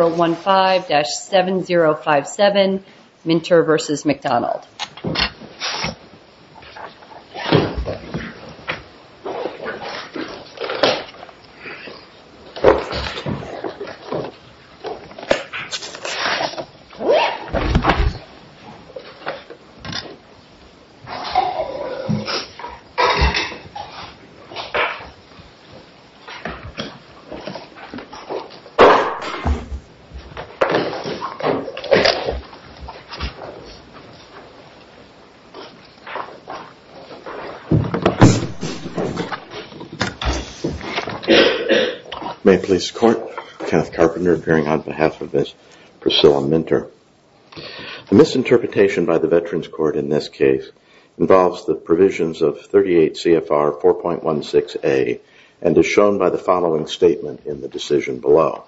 015-7057 Minter v. McDonald May it please the court, Kenneth Carpenter appearing on behalf of Ms. Priscilla Minter. The misinterpretation by the Veterans Court in this case involves the provisions of 38 CFR 4.16A and is shown by the following statement in the decision below.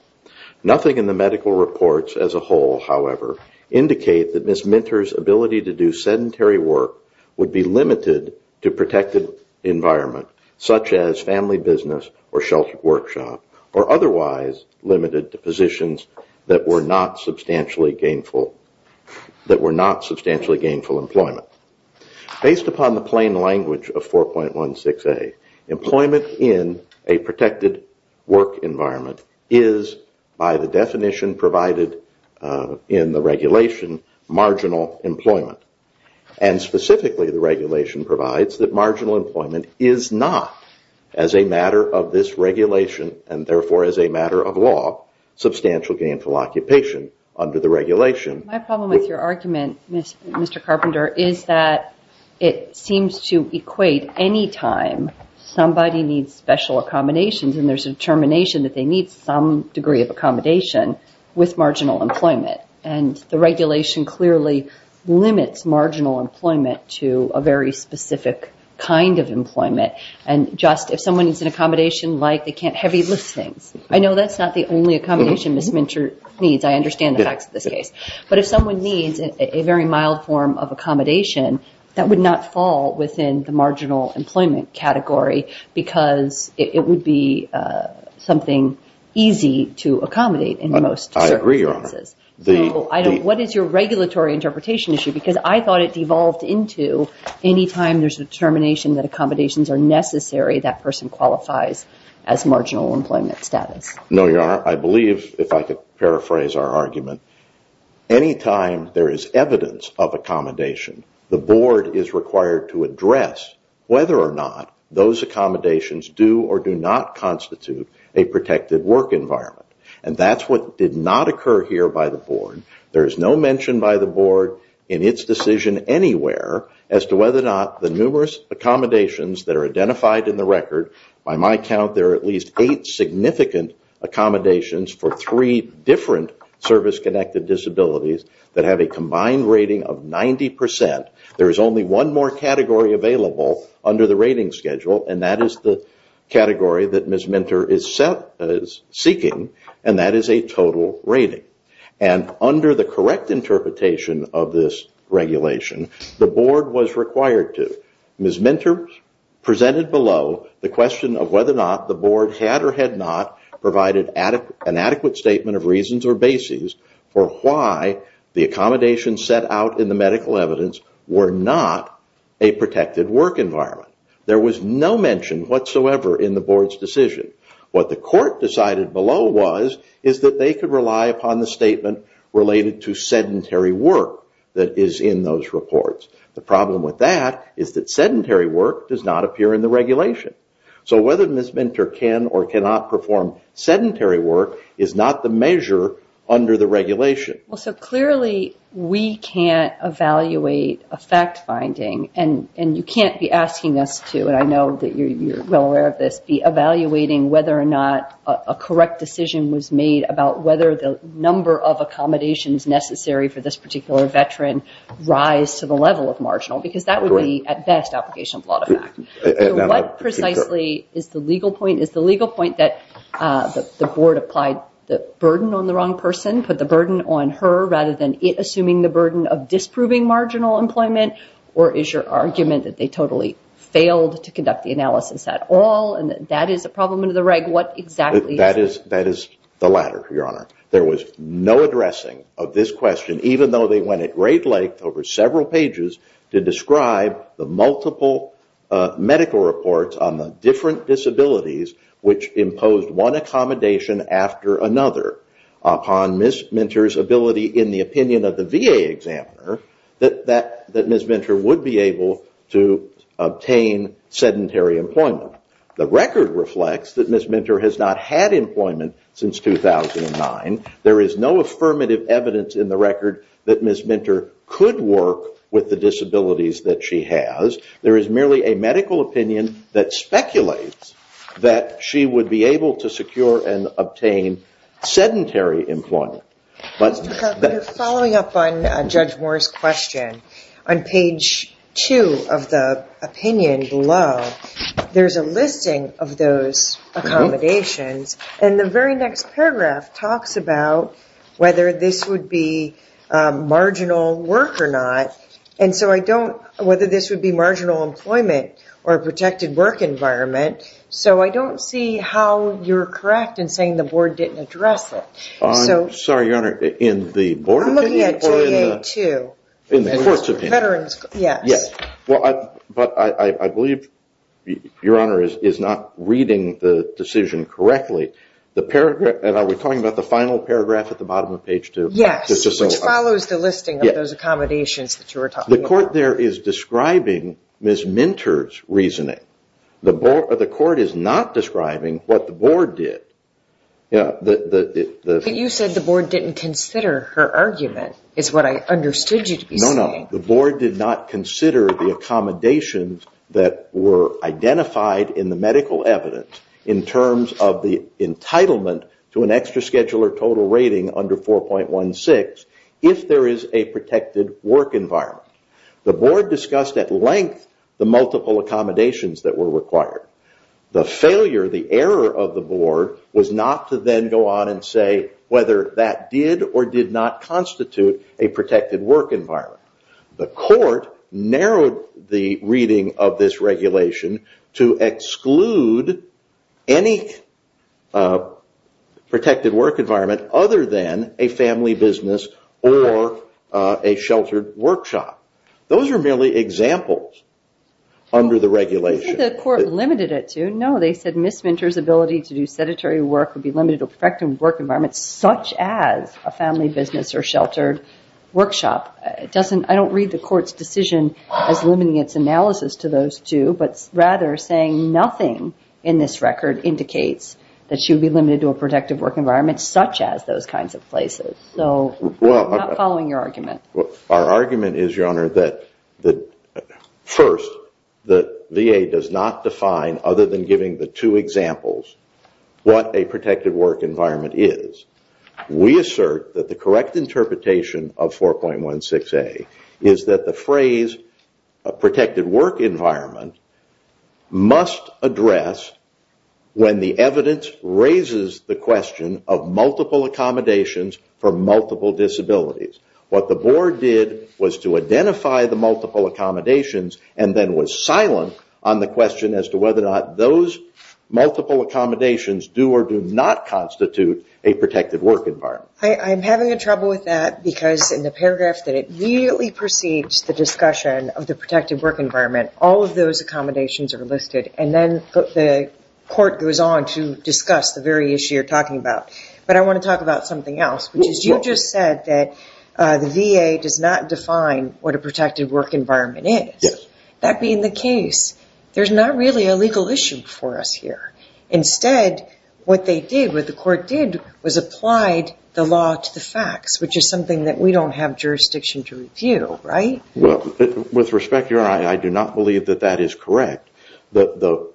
Nothing in the medical reports as a whole, however, indicate that Ms. Minter's ability to do sedentary work would be limited to protected environment such as family business or sheltered workshop or otherwise limited to positions that were not substantially gainful employment. Based upon the plain language of 4.16A, employment in a protected work environment is by the definition provided in the regulation marginal employment and specifically the regulation provides that marginal employment is not as a matter of this regulation and therefore as a matter of law substantial gainful occupation under the regulation. My problem with your argument, Mr. Carpenter, is that it seems to equate any time somebody needs special accommodations and there's a determination that they need some degree of accommodation with marginal employment and the regulation clearly limits marginal employment to a very specific kind of employment and just if someone needs an accommodation like they can't heavy lift things. I know that's not the only accommodation Ms. Minter needs. I understand the facts of this case. But if someone needs a very mild form of accommodation, that would not fall within the marginal employment category because it would be something easy to accommodate in most circumstances. I believe if I could paraphrase our argument, any time there is evidence of accommodation, the board is required to address whether or not those accommodations do or do not constitute a protected work environment. That's what did not occur here by the board. There is no mention by the board in its decision anywhere as to whether or not the numerous accommodations that are identified in the record, by my count there are at least eight significant accommodations for three different service-connected disabilities that have a combined rating of 90%. There is only one more category available under the rating schedule and that is the category that Ms. Minter is seeking and that is a total rating. Under the correct interpretation of this regulation, the board was required to. Ms. Minter presented below the question of whether or not the board had or had not provided an adequate statement of reasons or basis for why the accommodation set out in the medical evidence was not a protected work environment. There was no mention whatsoever in the board's decision. What the court decided below was that they could rely upon the statement related to sedentary work that is in those reports. The problem with that is that sedentary work does not appear in the regulation. So whether Ms. Minter can or cannot perform sedentary work is not the measure under the regulation. Clearly we cannot evaluate a fact-finding and you cannot be asking us to and I know you are well aware of this, be evaluating whether or not a correct decision was made about whether the number of accommodations necessary for this particular veteran rise to the level of marginal because that would be at best application of a lot of fact. What precisely is the legal point? Is the legal point that the board applied the burden on the wrong person, put the burden on her rather than it assuming the burden of disproving marginal employment or is your argument that they totally failed to conduct the analysis at all and that is a problem under the reg? That is the latter, Your Honor. There was no addressing of this question even though they went at great length over several pages to describe the multiple medical reports on the different disabilities which imposed one accommodation after another upon Ms. Minter's ability in the opinion of the VA examiner that Ms. Minter would be able to obtain sedentary employment. The record reflects that Ms. Minter has not had employment since 2009. There is no affirmative evidence in the record that Ms. Minter could work with the disabilities that she has. There is merely a medical opinion that speculates that she would be able to secure and obtain sedentary employment. Following up on Judge Moore's question, on page 2 of the opinion below, there is a listing of those accommodations and the very next paragraph talks about whether this would be marginal work or not and so I don't, whether this would be marginal employment or protected work environment so I don't see how you are correct in saying the board didn't address it. I'm sorry, Your Honor, in the board opinion. I'm looking at VA too. In the court's opinion. Veterans, yes. Yes, but I believe Your Honor is not reading the decision correctly. The paragraph, are we talking about the final paragraph at the bottom of page 2? Yes, which follows the listing of those accommodations that you were talking about. The court there is describing Ms. Minter's reasoning. The court is not describing what the board did. You said the board didn't consider her argument is what I understood you to be saying. The board did not consider the accommodations that were identified in the medical evidence in terms of the entitlement to an extra scheduler total rating under 4.16 if there is a protected work environment. The board discussed at length the multiple accommodations that were required. The failure, the error of the board was not to then go on and say whether that did or did not constitute a protected work environment. The court narrowed the reading of this regulation to exclude any protected work environment other than a family business or a sheltered workshop. Those are merely examples under the regulation. I don't think the court limited it to, no they said Ms. Minter's ability to do sedentary work would be limited to a protected work environment such as a family business or sheltered workshop. I don't read the court's decision as limiting its analysis to those two, but rather saying nothing in this record indicates that she would be limited to a protected work environment such as those kinds of places. I'm not following your argument. Our argument is your honor that first the VA does not define other than giving the two examples what a protected work environment is. We assert that the correct interpretation of 4.16A is that the phrase protected work environment must address when the evidence raises the question of multiple accommodations for multiple disabilities. What the board did was to identify the multiple accommodations and then was silent on the question as to whether or not those multiple accommodations do or do not constitute a protected work environment. I'm having trouble with that because in the paragraph that it really precedes the discussion of the protected work environment, all of those accommodations are listed and then the court goes on to discuss the very issue you're talking about. I want to talk about something else. You just said that the VA does not define what a protected work environment is. That being the case, there's not really a legal issue for us here. Instead, what the court did was applied the law to the facts, which is something that we don't have jurisdiction to review, right? With respect, your honor, I do not believe that that is correct. The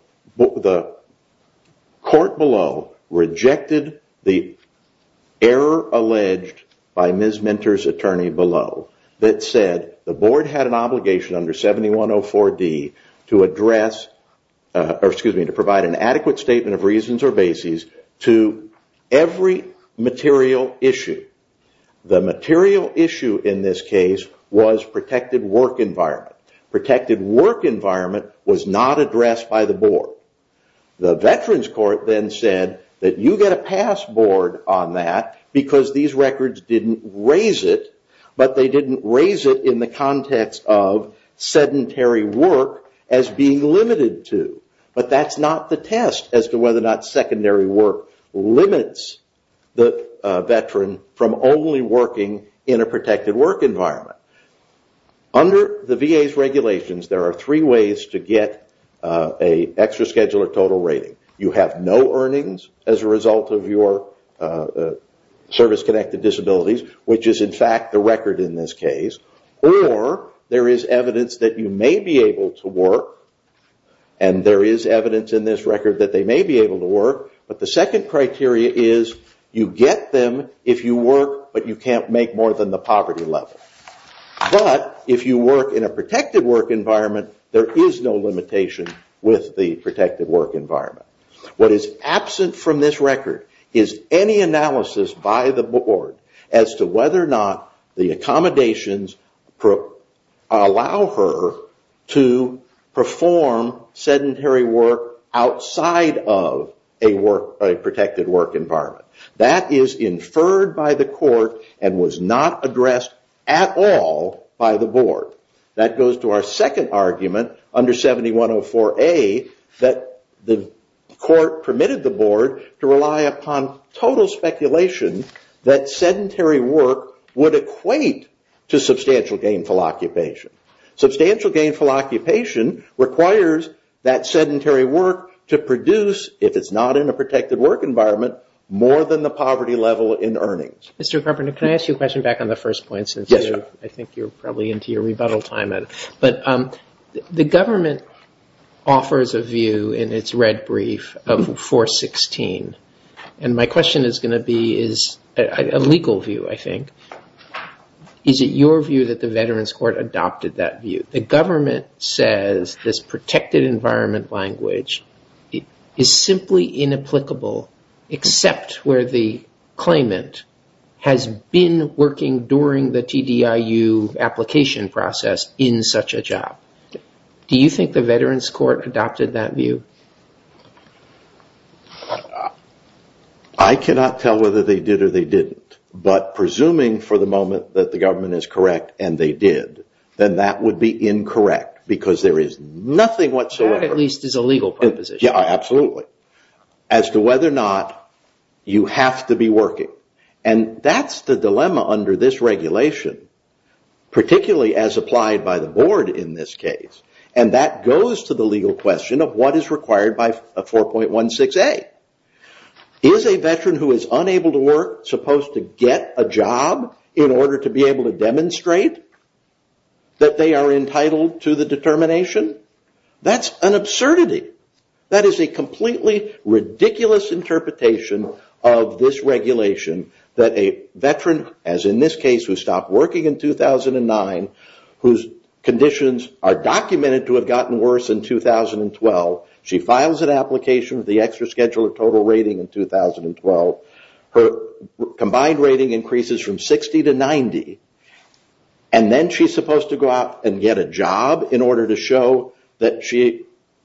court below rejected the error alleged by Ms. Minter's attorney below that said the board had an obligation under 7104D to provide an adequate statement of reasons or bases to every material issue. The material issue in this case was protected work environment. Protected work environment was not addressed by the board. The veterans court then said that you get a pass board on that because these records didn't raise it, but they didn't raise it in the context of sedentary work as being limited to, but that's not the test as to whether or not secondary work limits the veteran from only working in a protected work environment. Under the VA's regulations, there are three ways to get an extra schedule or total rating. You have no earnings as a result of your service-connected disabilities, which is in fact the record in this case, or there is evidence that you may be able to work, and there is evidence in this record that they may be able to work, but the second criteria is you get them if you work, but you can't make more than the poverty level. But if you work in a protected work environment, there is no limitation with the protected work environment. What is absent from this record is any analysis by the board as to whether or not the accommodations allow her to perform sedentary work outside of a protected work environment. That is inferred by the court and was not addressed at all by the board. That goes to our second argument under 7104A that the court permitted the board to rely upon total speculation that sedentary work would equate to substantial gainful occupation. Substantial gainful occupation requires that sedentary work to produce, if it's not in a protected work environment, more than the poverty level in earnings. Mr. Carpenter, can I ask you a question back on the first point since I think you're probably into your rebuttal time, but the government offers a view in its red brief of 416, and my question is going to be a legal view, I think. Is it your view that the Veterans Court adopted that view? The government says this protected environment language is simply inapplicable except where the claimant has been working during the TDIU application process in such a job. Do you think the Veterans Court adopted that view? I cannot tell whether they did or they didn't, but presuming for the moment that the government is correct and they did, then that would be incorrect because there is nothing whatsoever. That at least is a legal proposition. Yeah, absolutely. As to whether or not you have to be working, and that's the dilemma under this regulation, particularly as applied by the board in this case, and that goes to the legal question of what is required by 4.16a. Is a veteran who is unable to work supposed to get a job in order to be able to demonstrate that they are entitled to the determination? That's an absurdity. That is a completely ridiculous interpretation of this regulation that a veteran, as in this case, who stopped working in 2009, whose conditions are documented to have gotten worse in 2012, she files an application with the extra schedule of total rating in 2012, her combined rating increases from 60 to 90, and then she is supposed to go out and get a job in order to show that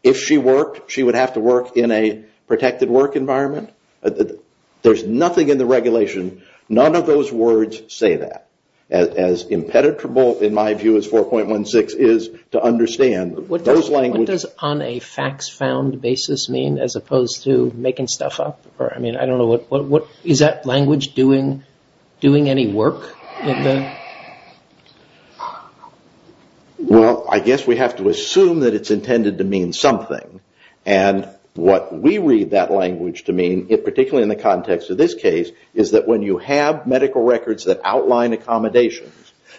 if she worked, she would have to work in a protected work environment? There is nothing in the regulation, none of those words say that, as impenetrable in my view as 4.16 is to understand. What does on a facts found basis mean as opposed to making stuff up? Is that language doing any work? Well, I guess we have to assume that it's intended to mean something. What we read that language to mean, particularly in the context of this case, is that when you have medical records that outline accommodations,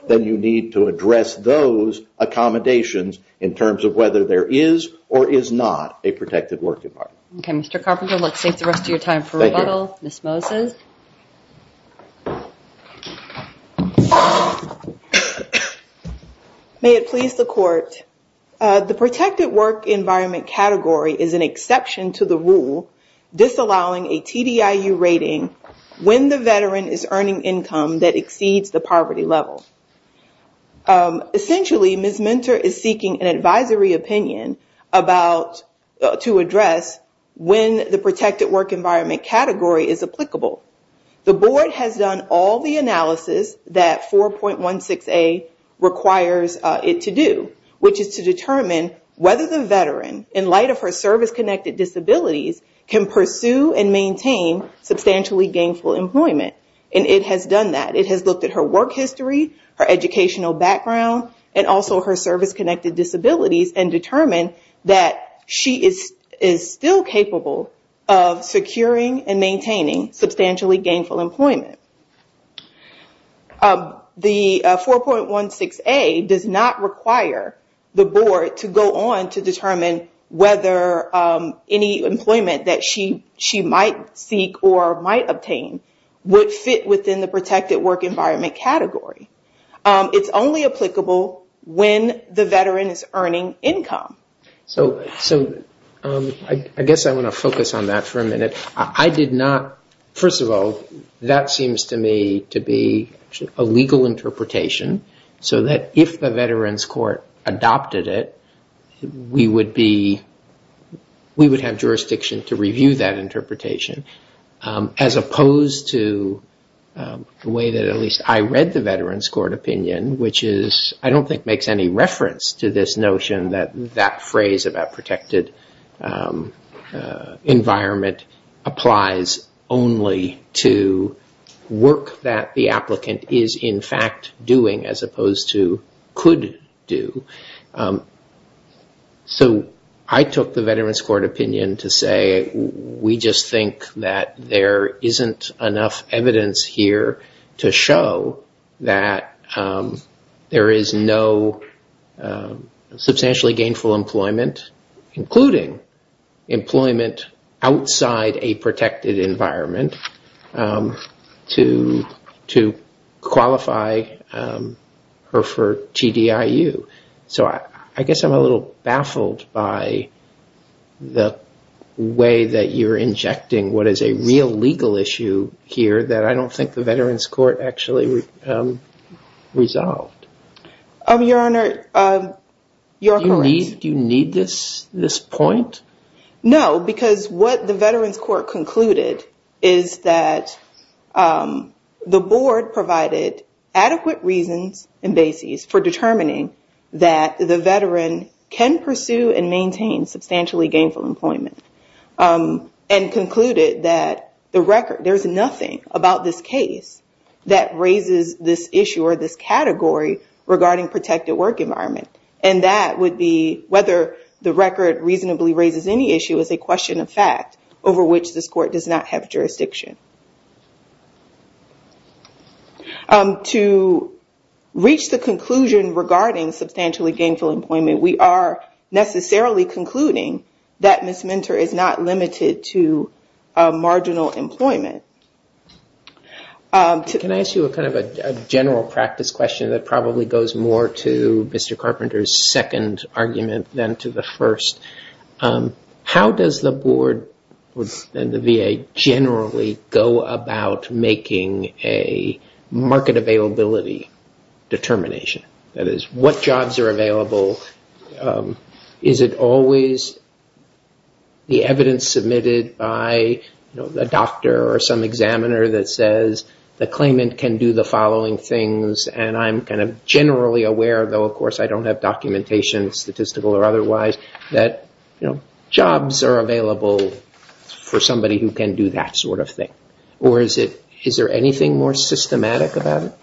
then you need to address those accommodations in terms of whether there is or is not a protected work environment. Okay, Mr. Carpenter, let's take the rest of your time for rebuttal. Ms. Moses? May it please the court, the protected work environment category is an exception to the rule disallowing a TDIU rating when the veteran is earning income that exceeds the poverty level. Essentially, Ms. Mentor is seeking an advisory opinion to address when the protected work environment category is applicable. The board has done all the analysis that 4.16A requires it to do, which is to determine whether the veteran, in light of her service-connected disabilities, can pursue and maintain substantially gainful employment. It has done that. It has looked at her work history, her educational background, and also her service-connected disabilities, and determined that she is still capable of securing and maintaining substantially gainful employment. The 4.16A does not require the board to go on to determine whether any employment that she might seek or might obtain would fit within the protected work environment category. It's only applicable when the veteran is earning income. I guess I want to focus on that for a minute. First of all, that seems to me to be a legal interpretation, so that if the Veterans Court adopted it, we would have jurisdiction to review that interpretation, as opposed to the way that at least I read the Veterans Court opinion, which I don't think makes any reference to this notion that that phrase about protected environment applies only to work that the applicant is in fact doing, as opposed to could do. So I took the Veterans Court opinion to say we just think that there isn't enough evidence here to show that there is no substantially gainful employment, including employment outside a protected environment, to qualify her for TDIU. So I guess I'm a little baffled by the way that you're injecting what is a real legal issue here that I don't think the Veterans Court actually resolved. Your Honor, you're correct. Do you need this point? No, because what the Veterans Court concluded is that the board provided adequate reasons and bases for determining that the veteran can pursue and maintain substantially gainful employment, and concluded that there's nothing about this case that raises this issue or this category regarding protected work environment, and that would be whether the record reasonably raises any issue as a question of fact over which this court does not have jurisdiction. To reach the conclusion regarding substantially gainful employment, we are necessarily concluding that Ms. Minter is not limited to marginal employment. Can I ask you a general practice question that probably goes more to Mr. Carpenter's second argument than to the first? How does the board and the VA generally go about making a market availability determination? That is, what jobs are available? Is it always the evidence submitted by a doctor or some examiner that says the claimant can do the following things? I'm generally aware, though of course I don't have documentation, statistical or otherwise, that jobs are available for somebody who can do that sort of thing. Is there anything more systematic about it?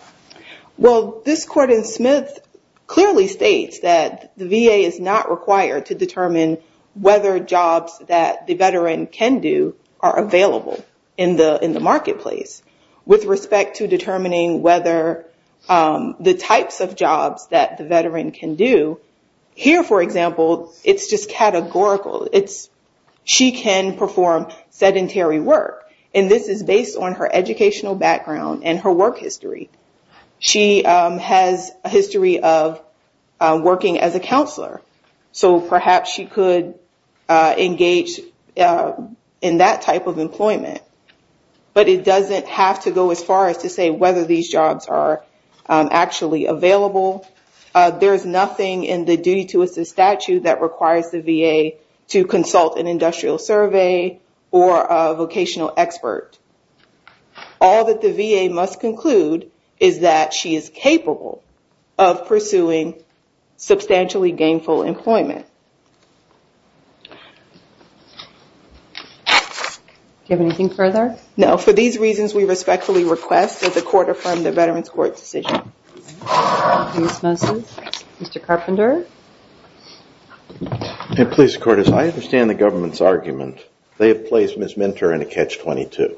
This court in Smith clearly states that the VA is not required to determine whether jobs that the veteran can do are available in the marketplace. With respect to determining whether the types of jobs that the veteran can do, here, for example, it's just categorical. She can perform sedentary work, and this is based on her educational background and her work history. She has a history of working as a counselor, so perhaps she could engage in that type of employment. But it doesn't have to go as far as to say whether these jobs are actually available. There is nothing in the duty to assist statute that requires the VA to consult an industrial survey or a vocational expert. All that the VA must conclude is that she is capable of pursuing substantially gainful employment. Do you have anything further? No. For these reasons, we respectfully request that the court affirm the Veterans Court's decision. Ms. Mosley? Mr. Carpenter? Please, Cortez, I understand the government's argument. They have placed Ms. Minter in a catch-22.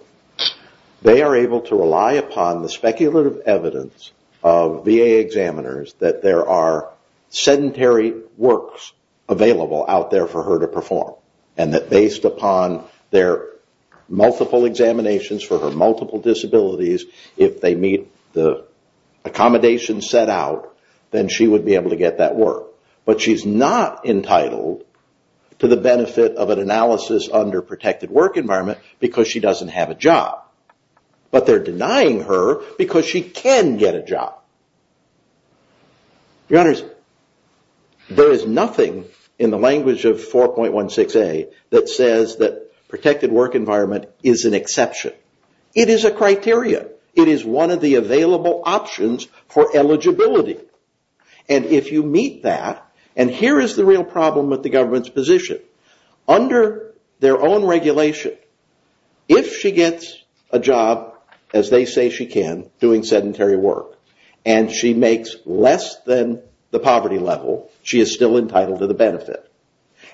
They are able to rely upon the speculative evidence of VA examiners that there are sedentary works, available out there for her to perform, and that based upon their multiple examinations for her multiple disabilities, if they meet the accommodations set out, then she would be able to get that work. But she's not entitled to the benefit of an analysis under protected work environment because she doesn't have a job. But they're denying her because she can get a job. Your Honors, there is nothing in the language of 4.16A that says that protected work environment is an exception. It is a criteria. It is one of the available options for eligibility. And if you meet that, and here is the real problem with the government's position, under their own regulation, if she gets a job, as they say she can, doing sedentary work, and she makes less than the poverty level, she is still entitled to the benefit.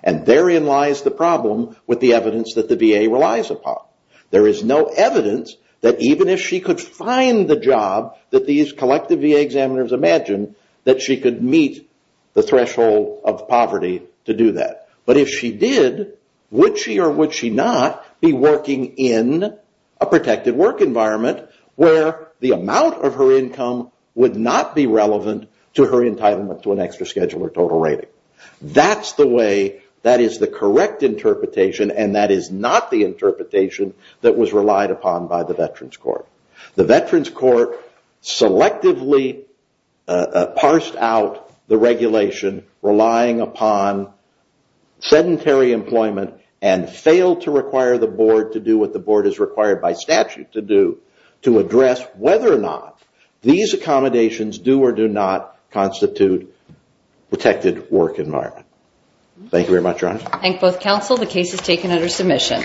And therein lies the problem with the evidence that the VA relies upon. There is no evidence that even if she could find the job that these collective VA examiners imagine, that she could meet the threshold of poverty to do that. But if she did, would she or would she not be working in a protected work environment where the amount of her income would not be relevant to her entitlement to an extra schedule or total rating? That's the way, that is the correct interpretation, and that is not the interpretation that was relied upon by the Veterans Court. The Veterans Court selectively parsed out the regulation relying upon sedentary employment and failed to require the board to do what the board is required by statute to do, to address whether or not these accommodations do or do not constitute protected work environment. Thank you very much, Ron. Thank you both, counsel. The case is taken under submission.